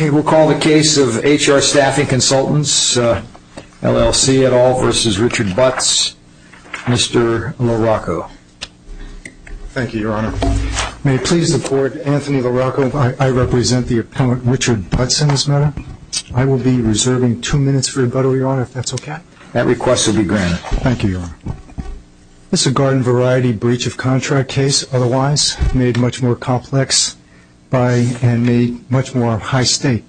We'll call the case of H.R. Staffing Consultants, L.L.C. et al. v. Richard Butts, Mr. LaRocco. Thank you, Your Honor. May it please the Court, Anthony LaRocco, I represent the appellant Richard Butts in this matter. I will be reserving two minutes for rebuttal, Your Honor, if that's okay. Thank you, Your Honor. This is a garden-variety breach-of-contract case, otherwise made much more complex and made much more high-state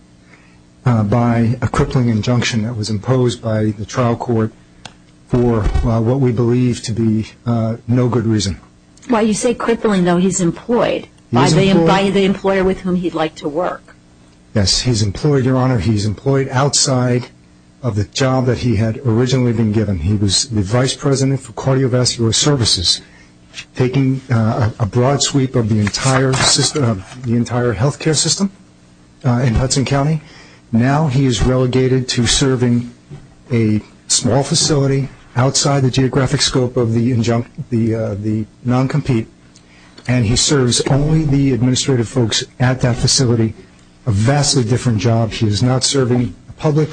by a crippling injunction that was imposed by the trial court for what we believe to be no good reason. Why, you say crippling, though he's employed by the employer with whom he'd like to work. Yes, he's employed, Your Honor, he's employed outside of the job that he had originally been given. He was the vice president for cardiovascular services, taking a broad sweep of the entire healthcare system in Hudson County. Now he is relegated to serving a small facility outside the geographic scope of the non-compete, and he serves only the administrative folks at that facility, a vastly different job. He is not serving the public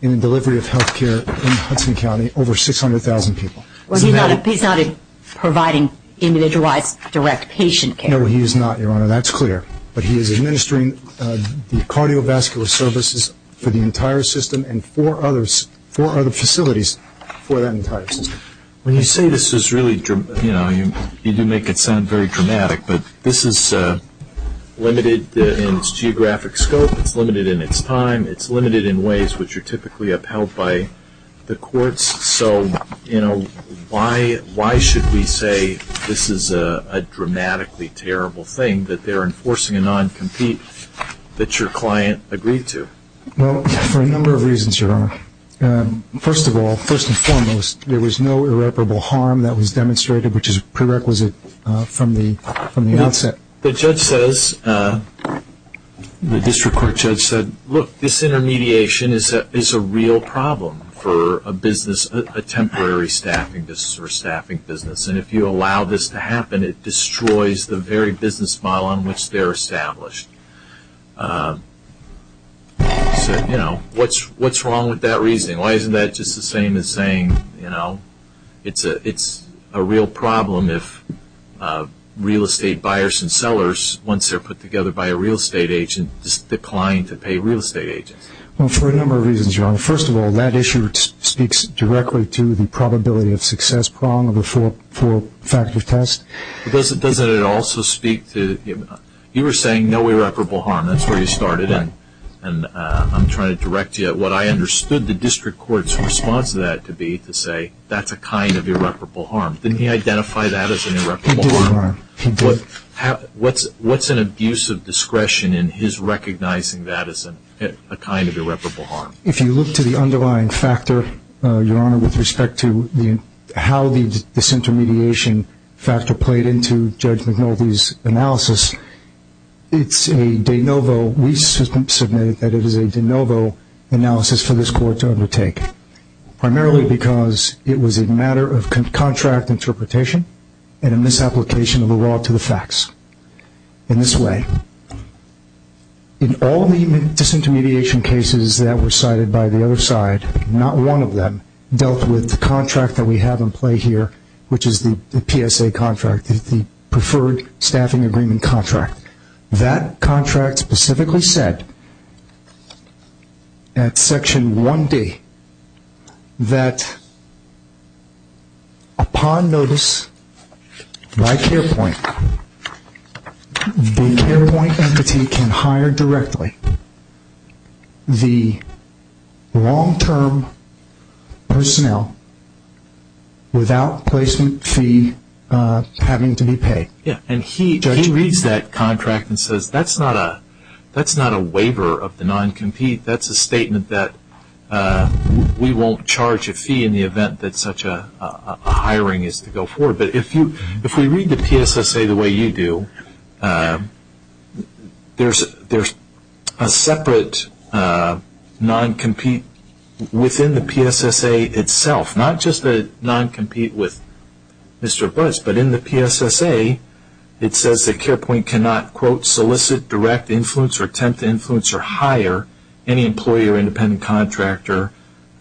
in the delivery of healthcare in Hudson County, over 600,000 people. Well, he's not providing individualized direct patient care. No, he is not, Your Honor, that's clear. But he is administering the cardiovascular services for the entire system and four other facilities for that entire system. When you say this is really, you know, you do make it sound very dramatic, but this is limited in its geographic scope, it's limited in its time, it's limited in ways which are typically upheld by the courts. So, you know, why should we say this is a dramatically terrible thing, that they're enforcing a non-compete that your client agreed to? Well, for a number of reasons, Your Honor. First of all, first and foremost, there was no irreparable harm that was demonstrated, which is prerequisite from the outset. The judge says, the district court judge said, look, this intermediation is a real problem for a business, a temporary staffing business, and if you allow this to happen, it destroys the very business model on which they're established. So, you know, what's wrong with that reasoning? Why isn't that just the same as saying, you know, it's a real problem if real estate buyers and sellers, once they're put together by a real estate agent, just decline to pay real estate agents? Well, for a number of reasons, Your Honor. First of all, that issue speaks directly to the probability of success problem of a four-factor test. But doesn't it also speak to, you were saying no irreparable harm, that's where you started, and I'm trying to direct you at what I understood the district court's response to that to be to say, that's a kind of irreparable harm. Didn't he identify that as an irreparable harm? He did. What's an abuse of discretion in his recognizing that as a kind of irreparable harm? If you look to the underlying factor, Your Honor, with respect to how the disintermediation factor played into Judge McNulty's analysis, it's a de novo, we submit that it is a de novo analysis for this court to undertake, primarily because it was a matter of contract interpretation and a misapplication of the law to the facts in this way. In all the disintermediation cases that were cited by the other side, not one of them dealt with the contract that we have in play here, which is the PSA contract, the preferred staffing agreement contract. That contract specifically said at Section 1D that upon notice by care point, the care point entity can hire directly the long-term personnel without placement fee having to be paid. And he reads that contract and says that's not a waiver of the non-compete, that's a statement that we won't charge a fee in the event that such a hiring is to go forward. But if we read the PSSA the way you do, there's a separate non-compete within the PSSA itself, not just the non-compete with Mr. Butts, but in the PSSA it says that care point cannot, quote, solicit direct influence or attempt to influence or hire any employee or independent contractor,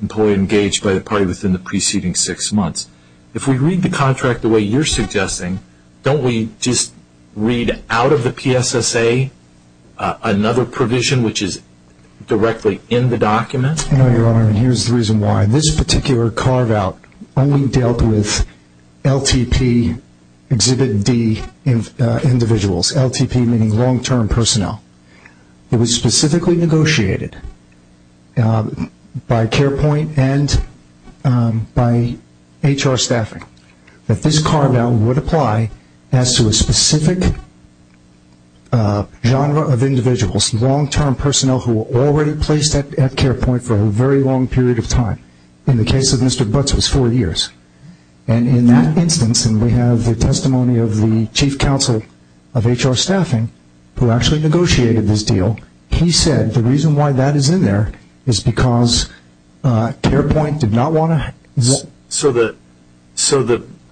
employee engaged by the party within the preceding six months. If we read the contract the way you're suggesting, don't we just read out of the PSSA another provision which is directly in the document? No, Your Honor, and here's the reason why. This particular carve-out only dealt with LTP Exhibit D individuals, LTP meaning long-term personnel. It was specifically negotiated by care point and by HR staffing that this carve-out would apply as to a specific genre of individuals, long-term personnel who were already placed at care point for a very long period of time. In the case of Mr. Butts it was four years. And in that instance, and we have the testimony of the chief counsel of HR staffing who actually negotiated this deal, he said the reason why that is in there is because care point did not want to. So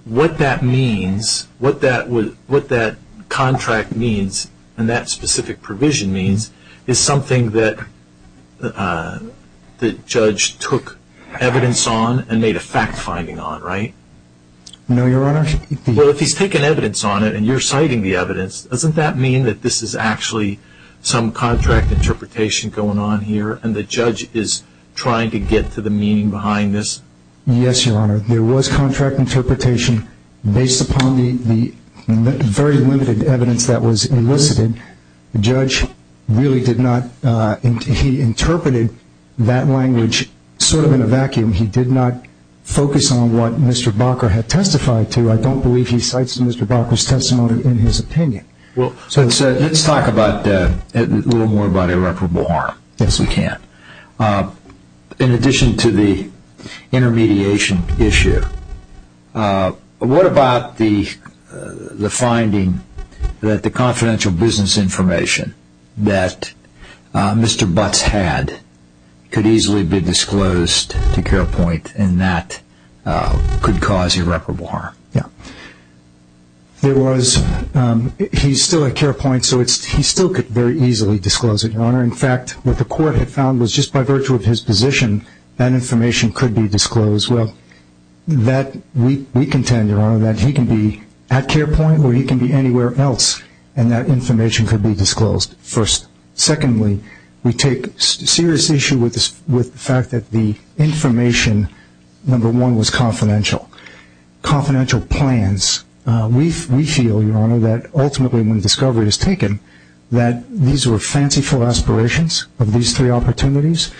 what that means, what that contract means, and that specific provision means, is something that the judge took evidence on and made a fact-finding on, right? No, Your Honor. Well, if he's taken evidence on it and you're citing the evidence, doesn't that mean that this is actually some contract interpretation going on here and the judge is trying to get to the meaning behind this? Yes, Your Honor. There was contract interpretation based upon the very limited evidence that was elicited. The judge really did not, he interpreted that language sort of in a vacuum. He did not focus on what Mr. Bakker had testified to. I don't believe he cites Mr. Bakker's testimony in his opinion. Well, let's talk a little more about irreparable harm. Yes, we can. In addition to the intermediation issue, what about the finding that the confidential business information that Mr. Butts had could easily be disclosed to care point and that could cause irreparable harm? He's still at care point, so he still could very easily disclose it, Your Honor. In fact, what the court had found was just by virtue of his position, that information could be disclosed. Well, we contend, Your Honor, that he can be at care point or he can be anywhere else and that information could be disclosed, first. Secondly, we take serious issue with the fact that the information, number one, was confidential. Confidential plans, we feel, Your Honor, that ultimately when discovery is taken, that these were fanciful aspirations of these three opportunities.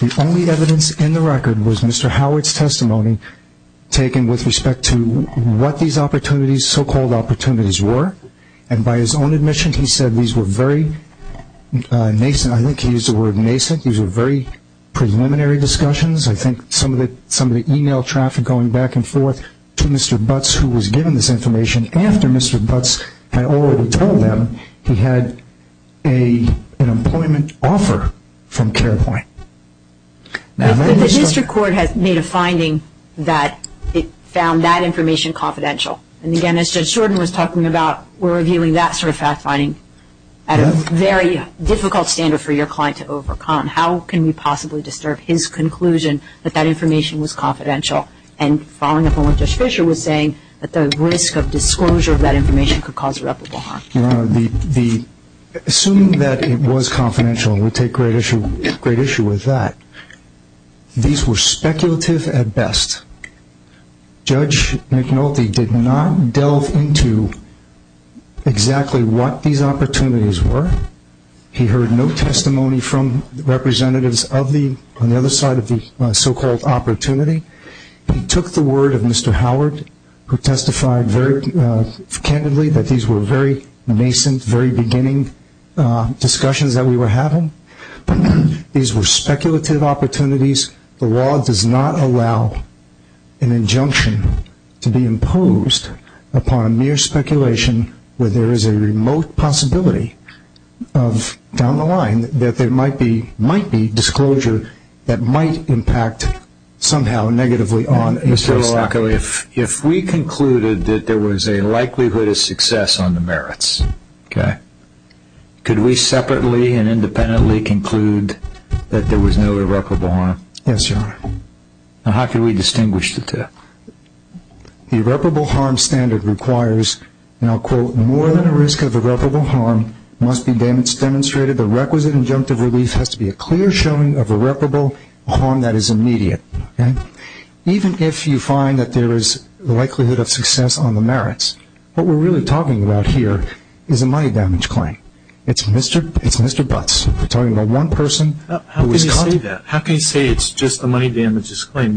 The only evidence in the record was Mr. Howard's testimony taken with respect to what these opportunities, so-called opportunities, were. And by his own admission, he said these were very nascent. I think he used the word nascent. These were very preliminary discussions. I think some of the e-mail traffic going back and forth to Mr. Butts, who was given this information after Mr. Butts had already told them he had an employment offer from care point. The district court has made a finding that it found that information confidential. And again, as Judge Shorten was talking about, we're reviewing that sort of fact-finding at a very difficult standard for your client to overcome. How can we possibly disturb his conclusion that that information was confidential? And following up on what Judge Fisher was saying, that the risk of disclosure of that information could cause irreparable harm. Your Honor, assuming that it was confidential, and we take great issue with that, these were speculative at best. Judge McNulty did not delve into exactly what these opportunities were. He heard no testimony from representatives on the other side of the so-called opportunity. He took the word of Mr. Howard, who testified very candidly that these were very nascent, very beginning discussions that we were having. These were speculative opportunities. The law does not allow an injunction to be imposed upon a mere speculation where there is a remote possibility down the line that there might be disclosure that might impact somehow negatively on a case like this. Mr. Loacco, if we concluded that there was a likelihood of success on the merits, could we separately and independently conclude that there was no irreparable harm? Yes, Your Honor. How could we distinguish the two? The irreparable harm standard requires, and I'll quote, more than a risk of irreparable harm must be demonstrated. The requisite injunctive relief has to be a clear showing of irreparable harm that is immediate. Even if you find that there is a likelihood of success on the merits, what we're really talking about here is a money damage claim. It's Mr. Butts. We're talking about one person who was caught. How can you say that? How can you say it's just a money damages claim?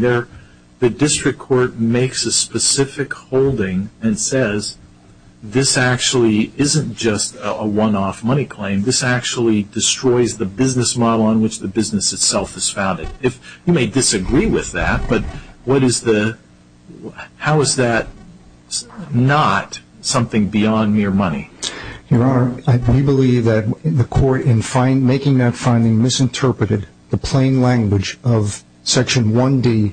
The district court makes a specific holding and says this actually isn't just a one-off money claim. This actually destroys the business model on which the business itself is founded. You may disagree with that, but how is that not something beyond mere money? Your Honor, we believe that the court, in making that finding, misinterpreted the plain language of Section 1D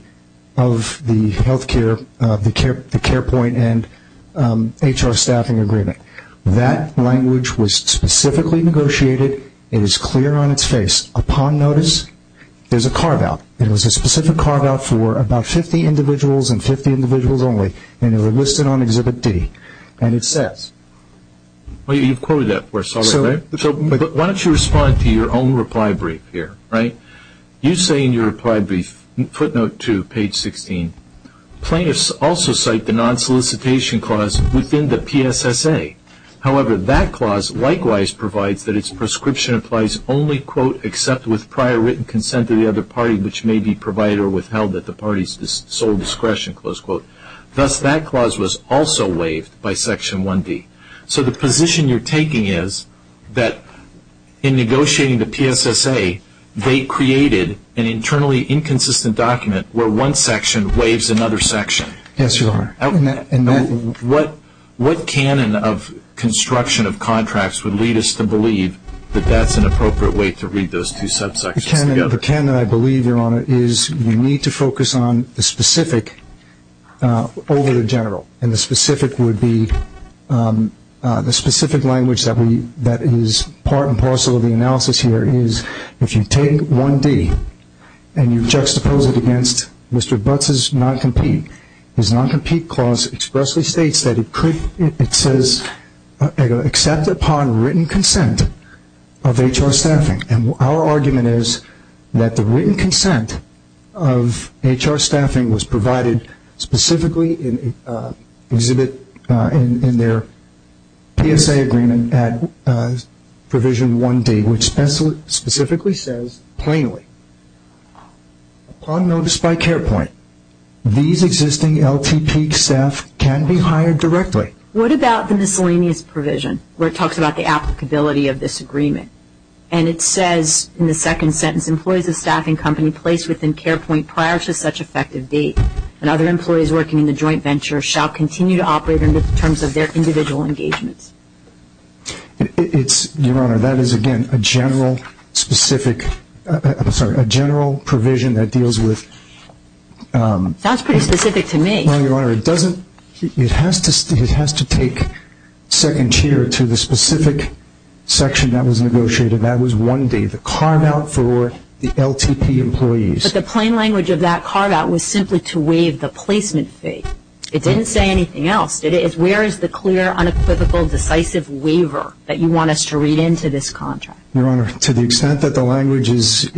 of the Health Care, the Care Point, and HR Staffing Agreement. That language was specifically negotiated. It is clear on its face. Upon notice, there's a carve-out. It was a specific carve-out for about 50 individuals and 50 individuals only, and it was listed on Exhibit D. And it says- Well, you've quoted that for us already, right? So why don't you respond to your own reply brief here, right? You say in your reply brief, footnote 2, page 16, Plaintiffs also cite the non-solicitation clause within the PSSA. However, that clause likewise provides that its prescription applies only, quote, except with prior written consent of the other party, which may be provided or withheld at the party's sole discretion, close quote. Thus, that clause was also waived by Section 1D. So the position you're taking is that in negotiating the PSSA, they created an internally inconsistent document where one section waives another section. Yes, Your Honor. What canon of construction of contracts would lead us to believe that that's an appropriate way to read those two subsections together? The canon I believe, Your Honor, is you need to focus on the specific over the general. And the specific language that is part and parcel of the analysis here is if you take 1D and you juxtapose it against Mr. Butts' non-compete, his non-compete clause expressly states that it says, except upon written consent of HR staffing. And our argument is that the written consent of HR staffing was provided specifically in their PSSA agreement at Provision 1D, which specifically says, plainly, upon notice by care point, these existing LTP staff can be hired directly. What about the miscellaneous provision where it talks about the applicability of this agreement? And it says in the second sentence, employees of staffing company placed within care point prior to such effective date and other employees working in the joint venture shall continue to operate under the terms of their individual engagements. It's, Your Honor, that is, again, a general, specific, I'm sorry, a general provision that deals with Sounds pretty specific to me. Well, Your Honor, it doesn't, it has to take second tier to the specific section that was negotiated. That was 1D, the carve-out for the LTP employees. But the plain language of that carve-out was simply to waive the placement fee. It didn't say anything else, did it? Where is the clear, unequivocal, decisive waiver that you want us to read into this contract? Your Honor, to the extent that the language is,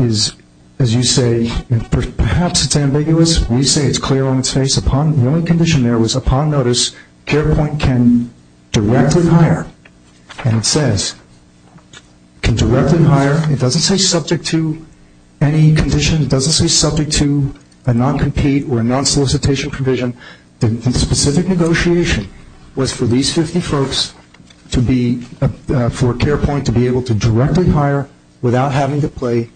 as you say, perhaps it's ambiguous. We say it's clear on its face. The only condition there was upon notice, care point can directly hire. And it says, can directly hire. It doesn't say subject to any condition. It doesn't say subject to a non-compete or a non-solicitation provision. The specific negotiation was for these 50 folks to be, for care point to be able to directly hire without having to pay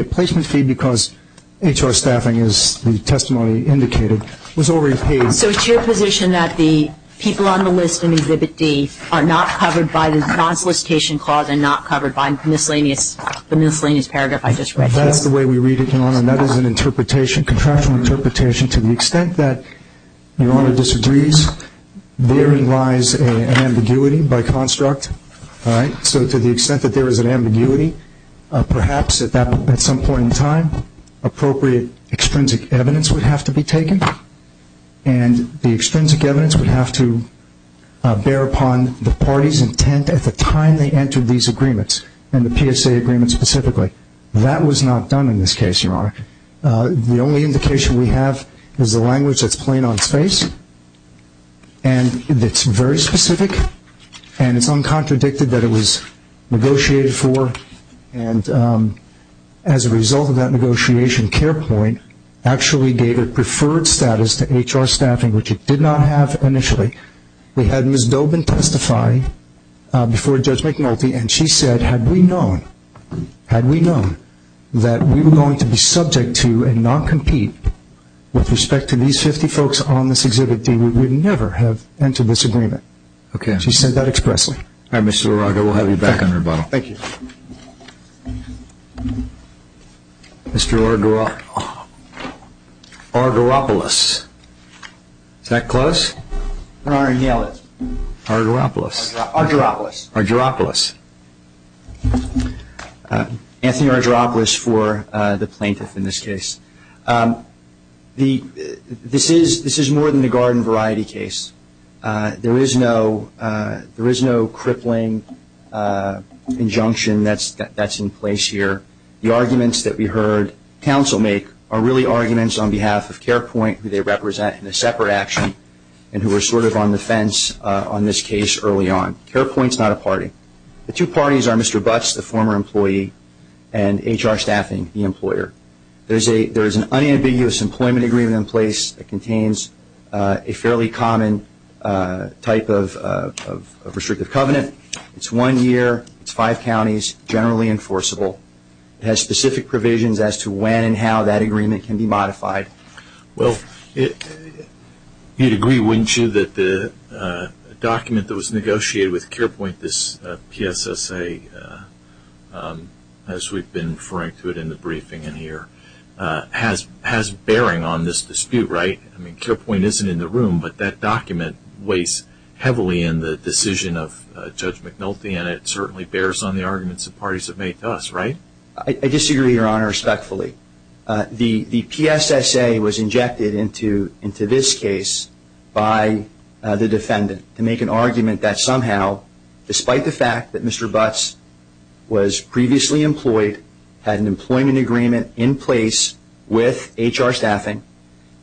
a placement fee because HR staffing, as the testimony indicated, was already paid. So it's your position that the people on the list in Exhibit D are not covered by the non-solicitation clause and not covered by the miscellaneous paragraph I just read? That's the way we read it, Your Honor. That is an interpretation, contractual interpretation. To the extent that Your Honor disagrees, therein lies an ambiguity by construct. All right? So to the extent that there is an ambiguity, perhaps at some point in time, appropriate extrinsic evidence would have to be taken, and the extrinsic evidence would have to bear upon the party's intent at the time they entered these agreements and the PSA agreement specifically. That was not done in this case, Your Honor. The only indication we have is the language that's plain on its face and that's very specific and it's uncontradicted that it was negotiated for. And as a result of that negotiation, Care Point actually gave a preferred status to HR staffing, which it did not have initially. We had Ms. Dobin testify before Judge McNulty, and she said, had we known that we were going to be subject to and not compete with respect to these 50 folks on this Exhibit D, we would never have entered this agreement. Okay. She said that expressly. All right, Mr. Uraga, we'll have you back on rebuttal. Thank you. Mr. Argeropoulos. Is that close? Your Honor, nail it. Argeropoulos. Argeropoulos. Argeropoulos. Anthony Argeropoulos for the plaintiff in this case. This is more than a garden variety case. There is no crippling injunction that's in place here. The arguments that we heard counsel make are really arguments on behalf of Care Point, who they represent in a separate action and who were sort of on the fence on this case early on. Care Point's not a party. The two parties are Mr. Butts, the former employee, and HR staffing, the employer. There is an unambiguous employment agreement in place that contains a fairly common type of restrictive covenant. It's one year. It's five counties, generally enforceable. It has specific provisions as to when and how that agreement can be modified. Well, you'd agree, wouldn't you, that the document that was negotiated with Care Point, this PSSA, as we've been referring to it in the briefing in here, has bearing on this dispute, right? I mean, Care Point isn't in the room, but that document weighs heavily in the decision of Judge McNulty, and it certainly bears on the arguments the parties have made to us, right? I disagree, Your Honor, respectfully. The PSSA was injected into this case by the defendant to make an argument that somehow, despite the fact that Mr. Butts was previously employed, had an employment agreement in place with HR staffing,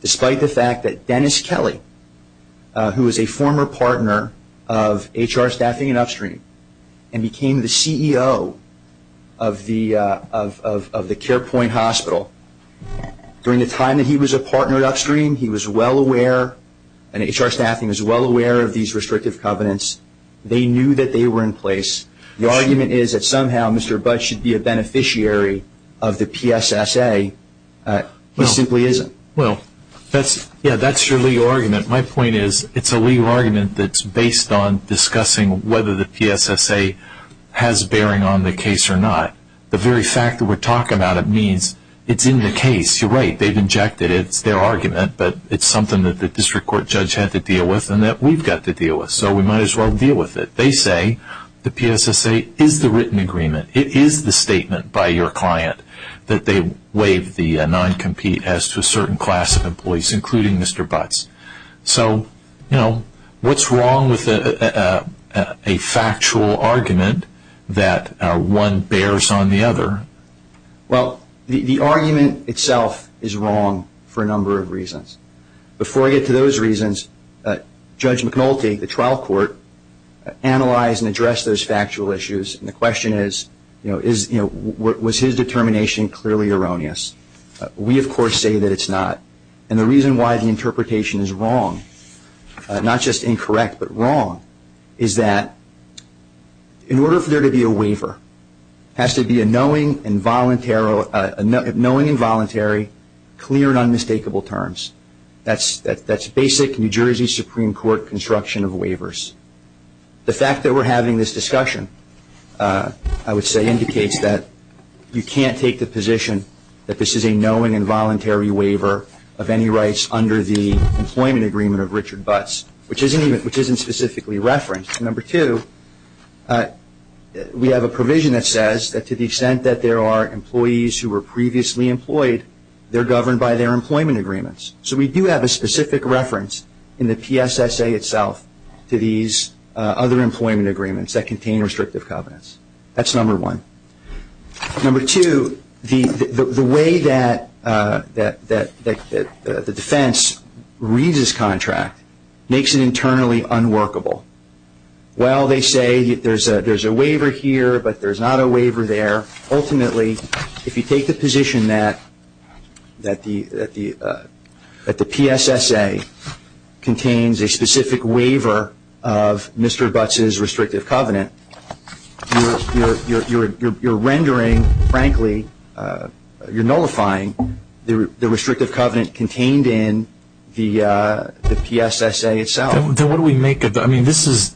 despite the fact that Dennis Kelly, who was a former partner of HR staffing at Upstream and became the CEO of the Care Point Hospital, during the time that he was a partner at Upstream, he was well aware and HR staffing was well aware of these restrictive covenants. They knew that they were in place. The argument is that somehow Mr. Butts should be a beneficiary of the PSSA. He simply isn't. Well, yeah, that's your legal argument. My point is it's a legal argument that's based on discussing whether the PSSA has bearing on the case or not. The very fact that we're talking about it means it's in the case. You're right. They've injected it. It's their argument, but it's something that the district court judge had to deal with and that we've got to deal with, so we might as well deal with it. They say the PSSA is the written agreement. It is the statement by your client that they waive the non-compete as to a certain class of employees, including Mr. Butts. So, you know, what's wrong with a factual argument that one bears on the other? Well, the argument itself is wrong for a number of reasons. Before I get to those reasons, Judge McNulty, the trial court, analyzed and addressed those factual issues, and the question is, you know, was his determination clearly erroneous? We, of course, say that it's not. And the reason why the interpretation is wrong, not just incorrect but wrong, is that in order for there to be a waiver, it has to be a knowing and voluntary, clear and unmistakable terms. That's basic New Jersey Supreme Court construction of waivers. The fact that we're having this discussion, I would say, indicates that you can't take the position that this is a knowing and voluntary waiver of any rights under the employment agreement of Richard Butts, which isn't specifically referenced. Number two, we have a provision that says that to the extent that there are employees who were previously employed, they're governed by their employment agreements. So we do have a specific reference in the PSSA itself to these other employment agreements that contain restrictive covenants. That's number one. Number two, the way that the defense reads this contract makes it internally unworkable. While they say there's a waiver here but there's not a waiver there, ultimately, if you take the position that the PSSA contains a specific waiver of Mr. Butts' restrictive covenant, you're rendering, frankly, you're nullifying the restrictive covenant contained in the PSSA itself. Then what do we make of it? I mean, this is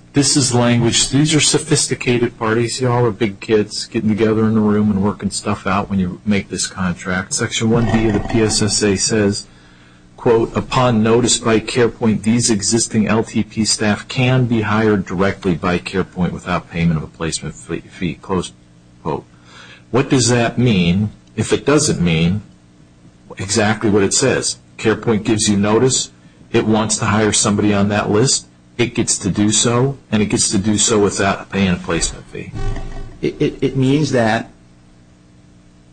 language. These are sophisticated parties. You all are big kids getting together in a room and working stuff out when you make this contract. Section 1B of the PSSA says, quote, upon notice by CarePoint these existing LTP staff can be hired directly by CarePoint without payment of a placement fee, close quote. What does that mean? If it doesn't mean exactly what it says. CarePoint gives you notice. It wants to hire somebody on that list. It gets to do so and it gets to do so without paying a placement fee. It means that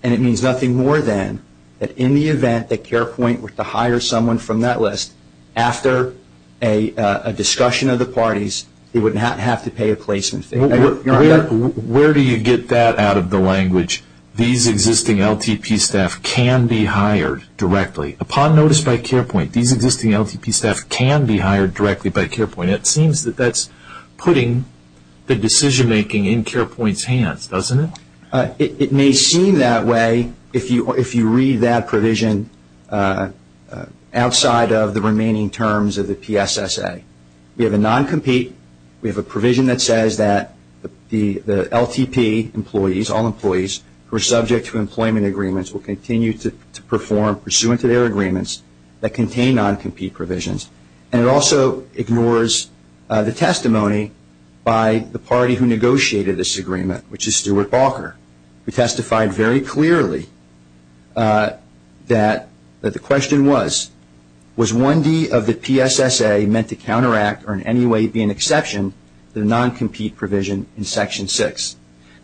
and it means nothing more than that in the event that CarePoint were to hire someone from that list, after a discussion of the parties, they would not have to pay a placement fee. Where do you get that out of the language? These existing LTP staff can be hired directly. Upon notice by CarePoint, these existing LTP staff can be hired directly by CarePoint. It seems that that's putting the decision-making in CarePoint's hands, doesn't it? It may seem that way if you read that provision outside of the remaining terms of the PSSA. We have a non-compete. We have a provision that says that the LTP employees, all employees, who are subject to employment agreements will continue to perform pursuant to their agreements that contain non-compete provisions. And it also ignores the testimony by the party who negotiated this agreement, which is Stuart Balker, who testified very clearly that the question was, was 1D of the PSSA meant to counteract or in any way be an exception to the non-compete provision in Section 6?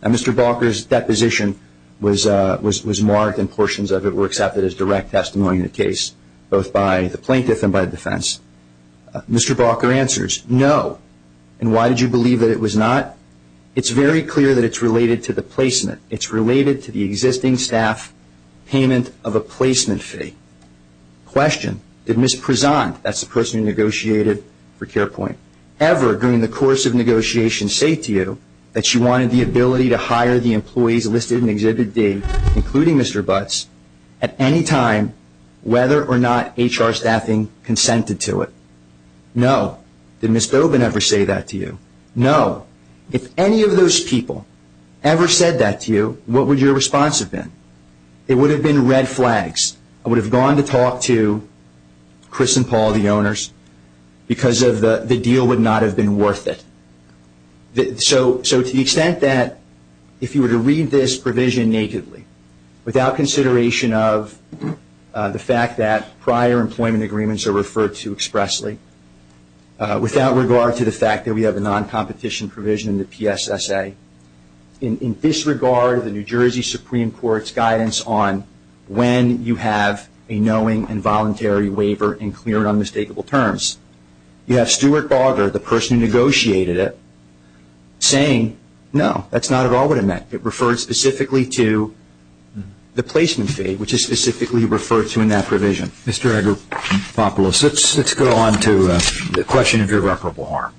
Mr. Balker's deposition was marked and portions of it were accepted as direct testimony in the case, both by the plaintiff and by the defense. Mr. Balker answers, no. And why did you believe that it was not? It's very clear that it's related to the placement. It's related to the existing staff payment of a placement fee. Question, did Ms. Prezant, that's the person who negotiated for CarePoint, ever during the course of negotiations say to you that she wanted the ability to hire the employees listed in Exhibit D, including Mr. Butts, at any time, whether or not HR staffing consented to it? No. Did Ms. Dobin ever say that to you? No. If any of those people ever said that to you, what would your response have been? It would have been red flags. I would have gone to talk to Chris and Paul, the owners, because the deal would not have been worth it. So to the extent that if you were to read this provision nakedly, without consideration of the fact that prior employment agreements are referred to expressly, without regard to the fact that we have a non-competition provision in the PSSA, in disregard of the New Jersey Supreme Court's guidance on when you have a knowing and voluntary waiver in clear and unmistakable terms, you have Stuart Barger, the person who negotiated it, saying no, that's not at all what it meant. It referred specifically to the placement fee, which is specifically referred to in that provision. Mr. Agropopoulos, let's go on to the question of irreparable harm.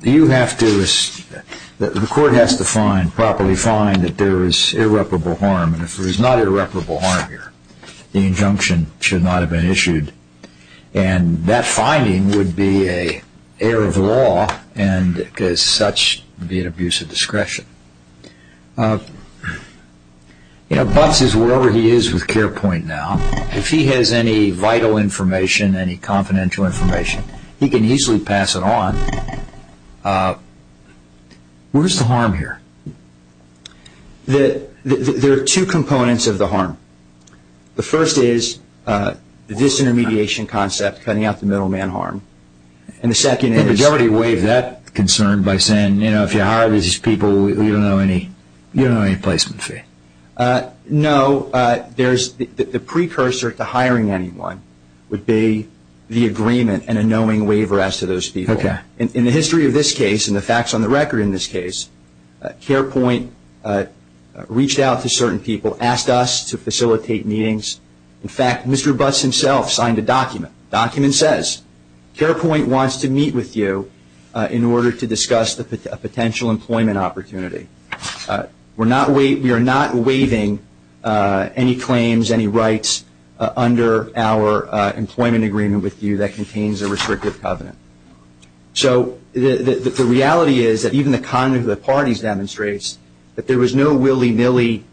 The court has to properly find that there is irreparable harm, and if there is not irreparable harm here, the injunction should not have been issued, and that finding would be an error of law, and as such be an abuse of discretion. Butz is wherever he is with CarePoint now. If he has any vital information, any confidential information, he can easily pass it on. Where's the harm here? There are two components of the harm. The first is this intermediation concept, cutting out the middleman harm, and the second is... But you already waived that concern by saying if you hire these people, you don't know any placement fee. No. The precursor to hiring anyone would be the agreement and a knowing waiver as to those people. In the history of this case and the facts on the record in this case, CarePoint reached out to certain people, asked us to facilitate meetings. In fact, Mr. Butz himself signed a document. The document says CarePoint wants to meet with you in order to discuss a potential employment opportunity. We are not waiving any claims, any rights under our employment agreement with you that contains a restrictive covenant. So the reality is that even the conduct of the parties demonstrates that there was no willy-nilly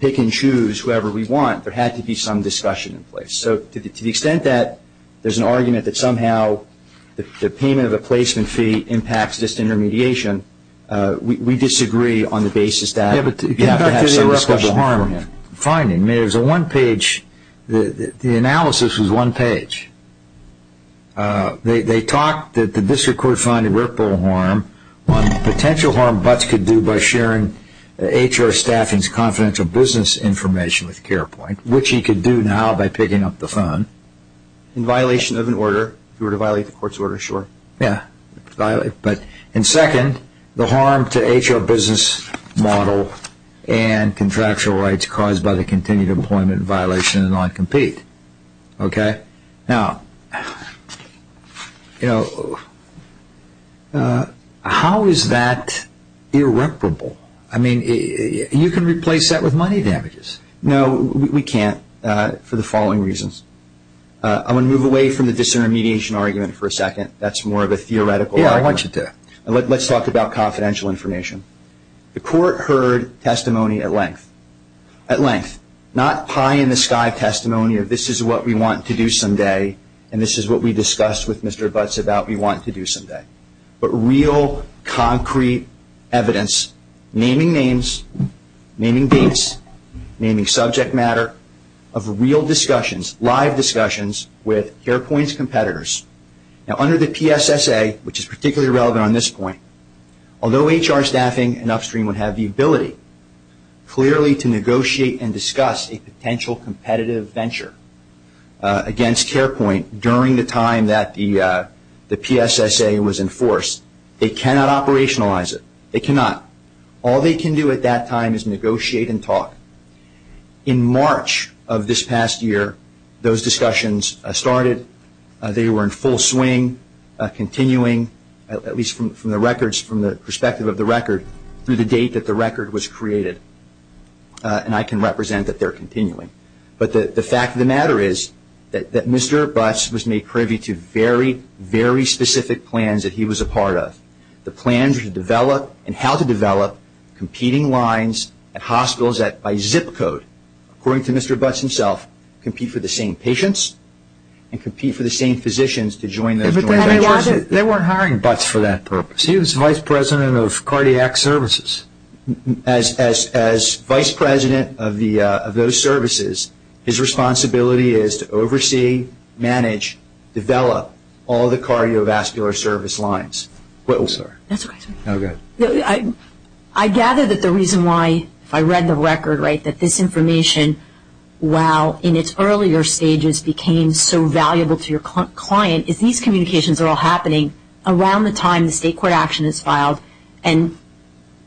pick-and-choose, whoever we want. There had to be some discussion in place. So to the extent that there's an argument that somehow the payment of a placement fee impacts this intermediation, we disagree on the basis that... Yeah, but get back to the irreparable harm finding. I mean, there's a one-page... The analysis was one page. They talked that the district court found irreparable harm, one, potential harm Butz could do by sharing HR staffing's confidential business information with CarePoint, which he could do now by picking up the phone. In violation of an order. If you were to violate the court's order, sure. Yeah. And second, the harm to HR business model and contractual rights caused by the continued employment violation in non-compete. Okay? Now, you know, how is that irreparable? I mean, you can replace that with money damages. No, we can't for the following reasons. I want to move away from the disintermediation argument for a second. That's more of a theoretical argument. Yeah, I want you to. Let's talk about confidential information. The court heard testimony at length. At length. Not pie-in-the-sky testimony of this is what we want to do someday, and this is what we discussed with Mr. Butz about we want to do someday. But real, concrete evidence, naming names, naming dates, naming subject matter, of real discussions, live discussions with CarePoint's competitors. Now, under the PSSA, which is particularly relevant on this point, although HR staffing and upstream would have the ability clearly to negotiate and discuss a potential competitive venture against CarePoint during the time that the PSSA was enforced, they cannot operationalize it. They cannot. All they can do at that time is negotiate and talk. In March of this past year, those discussions started. They were in full swing, continuing, at least from the perspective of the record, through the date that the record was created, and I can represent that they're continuing. But the fact of the matter is that Mr. Butz was made privy to very, very specific plans that he was a part of, the plans to develop and how to develop competing lines at hospitals that by zip code, according to Mr. Butz himself, compete for the same patients and compete for the same physicians to join the joint ventures. They weren't hiring Butz for that purpose. He was vice president of cardiac services. As vice president of those services, his responsibility is to oversee, manage, develop, all the cardiovascular service lines. I gather that the reason why, if I read the record right, that this information, while in its earlier stages became so valuable to your client, is these communications are all happening around the time the state court action is filed and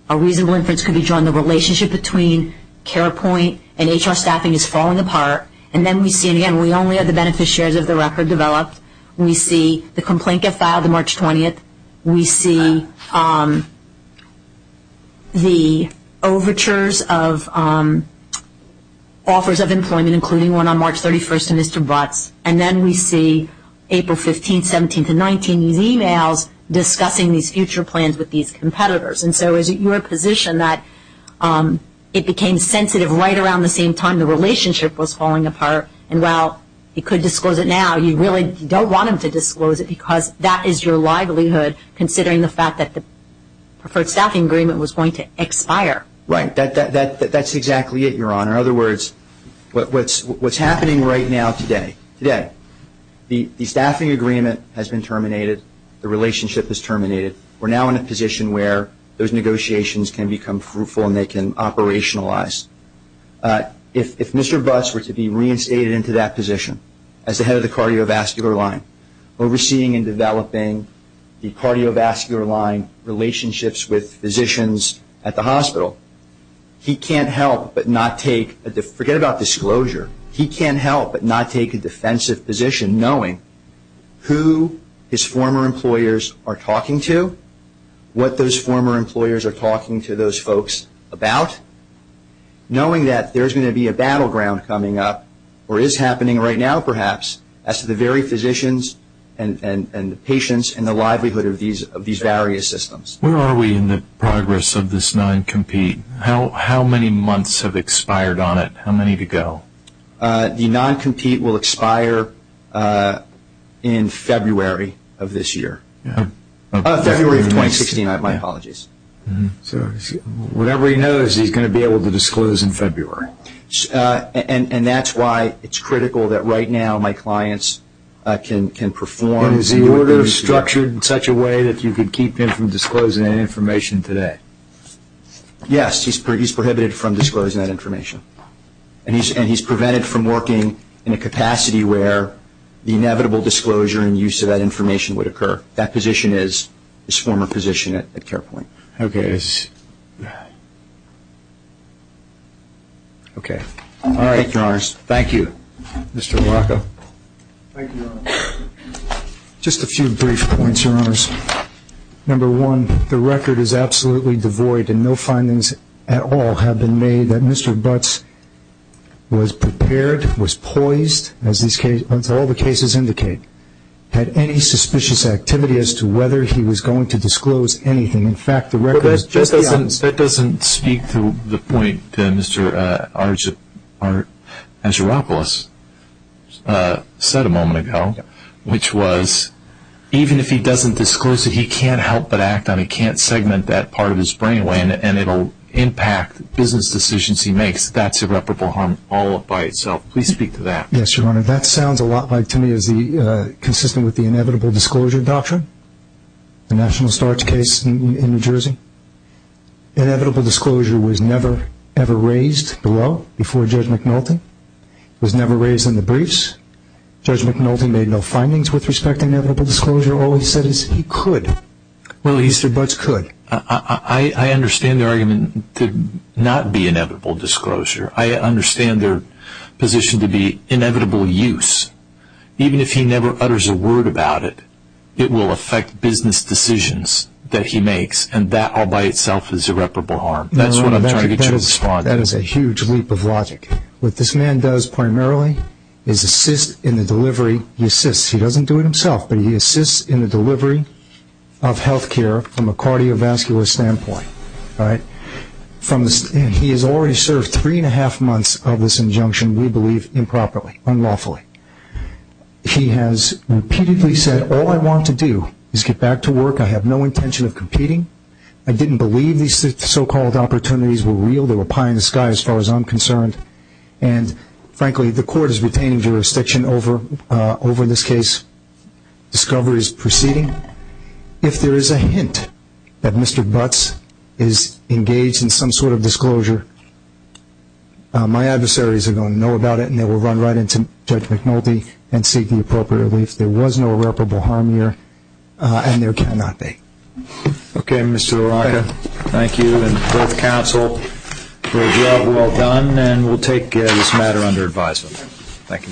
a reasonable inference could be drawn. The relationship between CarePoint and HR staffing is falling apart, and then we see again we only have the benefit shares of the record developed. We see the complaint get filed on March 20th. We see the overtures of offers of employment, including one on March 31st to Mr. Butz, and then we see April 15th, 17th, and 19th, these e-mails discussing these future plans with these competitors. And so is it your position that it became sensitive right around the same time the relationship was falling apart, and while you could disclose it now, you really don't want them to disclose it because that is your livelihood considering the fact that the preferred staffing agreement was going to expire? Right. That's exactly it, Your Honor. In other words, what's happening right now today, today, the staffing agreement has been terminated. The relationship is terminated. We're now in a position where those negotiations can become fruitful and they can operationalize. If Mr. Butz were to be reinstated into that position as the head of the cardiovascular line, overseeing and developing the cardiovascular line relationships with physicians at the hospital, he can't help but not take a defensive position knowing who his former employers are talking to, what those former employers are talking to those folks about, knowing that there's going to be a battleground coming up, or is happening right now perhaps, as to the very physicians and the patients and the livelihood of these various systems. Where are we in the progress of this non-compete? How many months have expired on it? How many to go? The non-compete will expire in February of this year. February of 2016. My apologies. So whatever he knows, he's going to be able to disclose in February. And that's why it's critical that right now my clients can perform. Is the order structured in such a way that you can keep him from disclosing that information today? Yes. He's prohibited from disclosing that information. And he's prevented from working in a capacity where the inevitable disclosure and use of that information would occur. That position is his former position at CarePoint. Okay. All right. Thank you, Your Honors. Thank you, Mr. Morocco. Thank you, Your Honor. Just a few brief points, Your Honors. Number one, the record is absolutely devoid, and no findings at all have been made that Mr. Butts was prepared, was poised, as all the cases indicate, had any suspicious activity as to whether he was going to disclose anything. In fact, the record is just beyond this. That doesn't speak to the point that Mr. Argyropoulos said a moment ago, which was even if he doesn't disclose it, he can't help but act on it. He can't segment that part of his brain away, and it will impact business decisions he makes. That's irreparable harm all by itself. Please speak to that. Yes, Your Honor. That sounds a lot like to me is consistent with the inevitable disclosure doctrine, the national starch case in New Jersey. Inevitable disclosure was never, ever raised below before Judge McNulty. It was never raised in the briefs. Judge McNulty made no findings with respect to inevitable disclosure. All he said is he could. Well, he said Butts could. I understand the argument to not be inevitable disclosure. I understand their position to be inevitable use. Even if he never utters a word about it, it will affect business decisions that he makes, and that all by itself is irreparable harm. That's what I'm trying to get you to respond to. That is a huge leap of logic. What this man does primarily is assist in the delivery. He doesn't do it himself, but he assists in the delivery of health care from a cardiovascular standpoint. He has already served three and a half months of this injunction, we believe, improperly, unlawfully. He has repeatedly said, All I want to do is get back to work. I have no intention of competing. I didn't believe these so-called opportunities were real. They were pie in the sky as far as I'm concerned. Frankly, the court is retaining jurisdiction over this case. Discovery is proceeding. If there is a hint that Mr. Butts is engaged in some sort of disclosure, my adversaries are going to know about it, and they will run right into Judge McNulty and seek the appropriate relief. There was no irreparable harm here, and there cannot be. Okay, Mr. O'Rourke, thank you and both counsel for a job well done, and we'll take this matter under advisement. Thank you.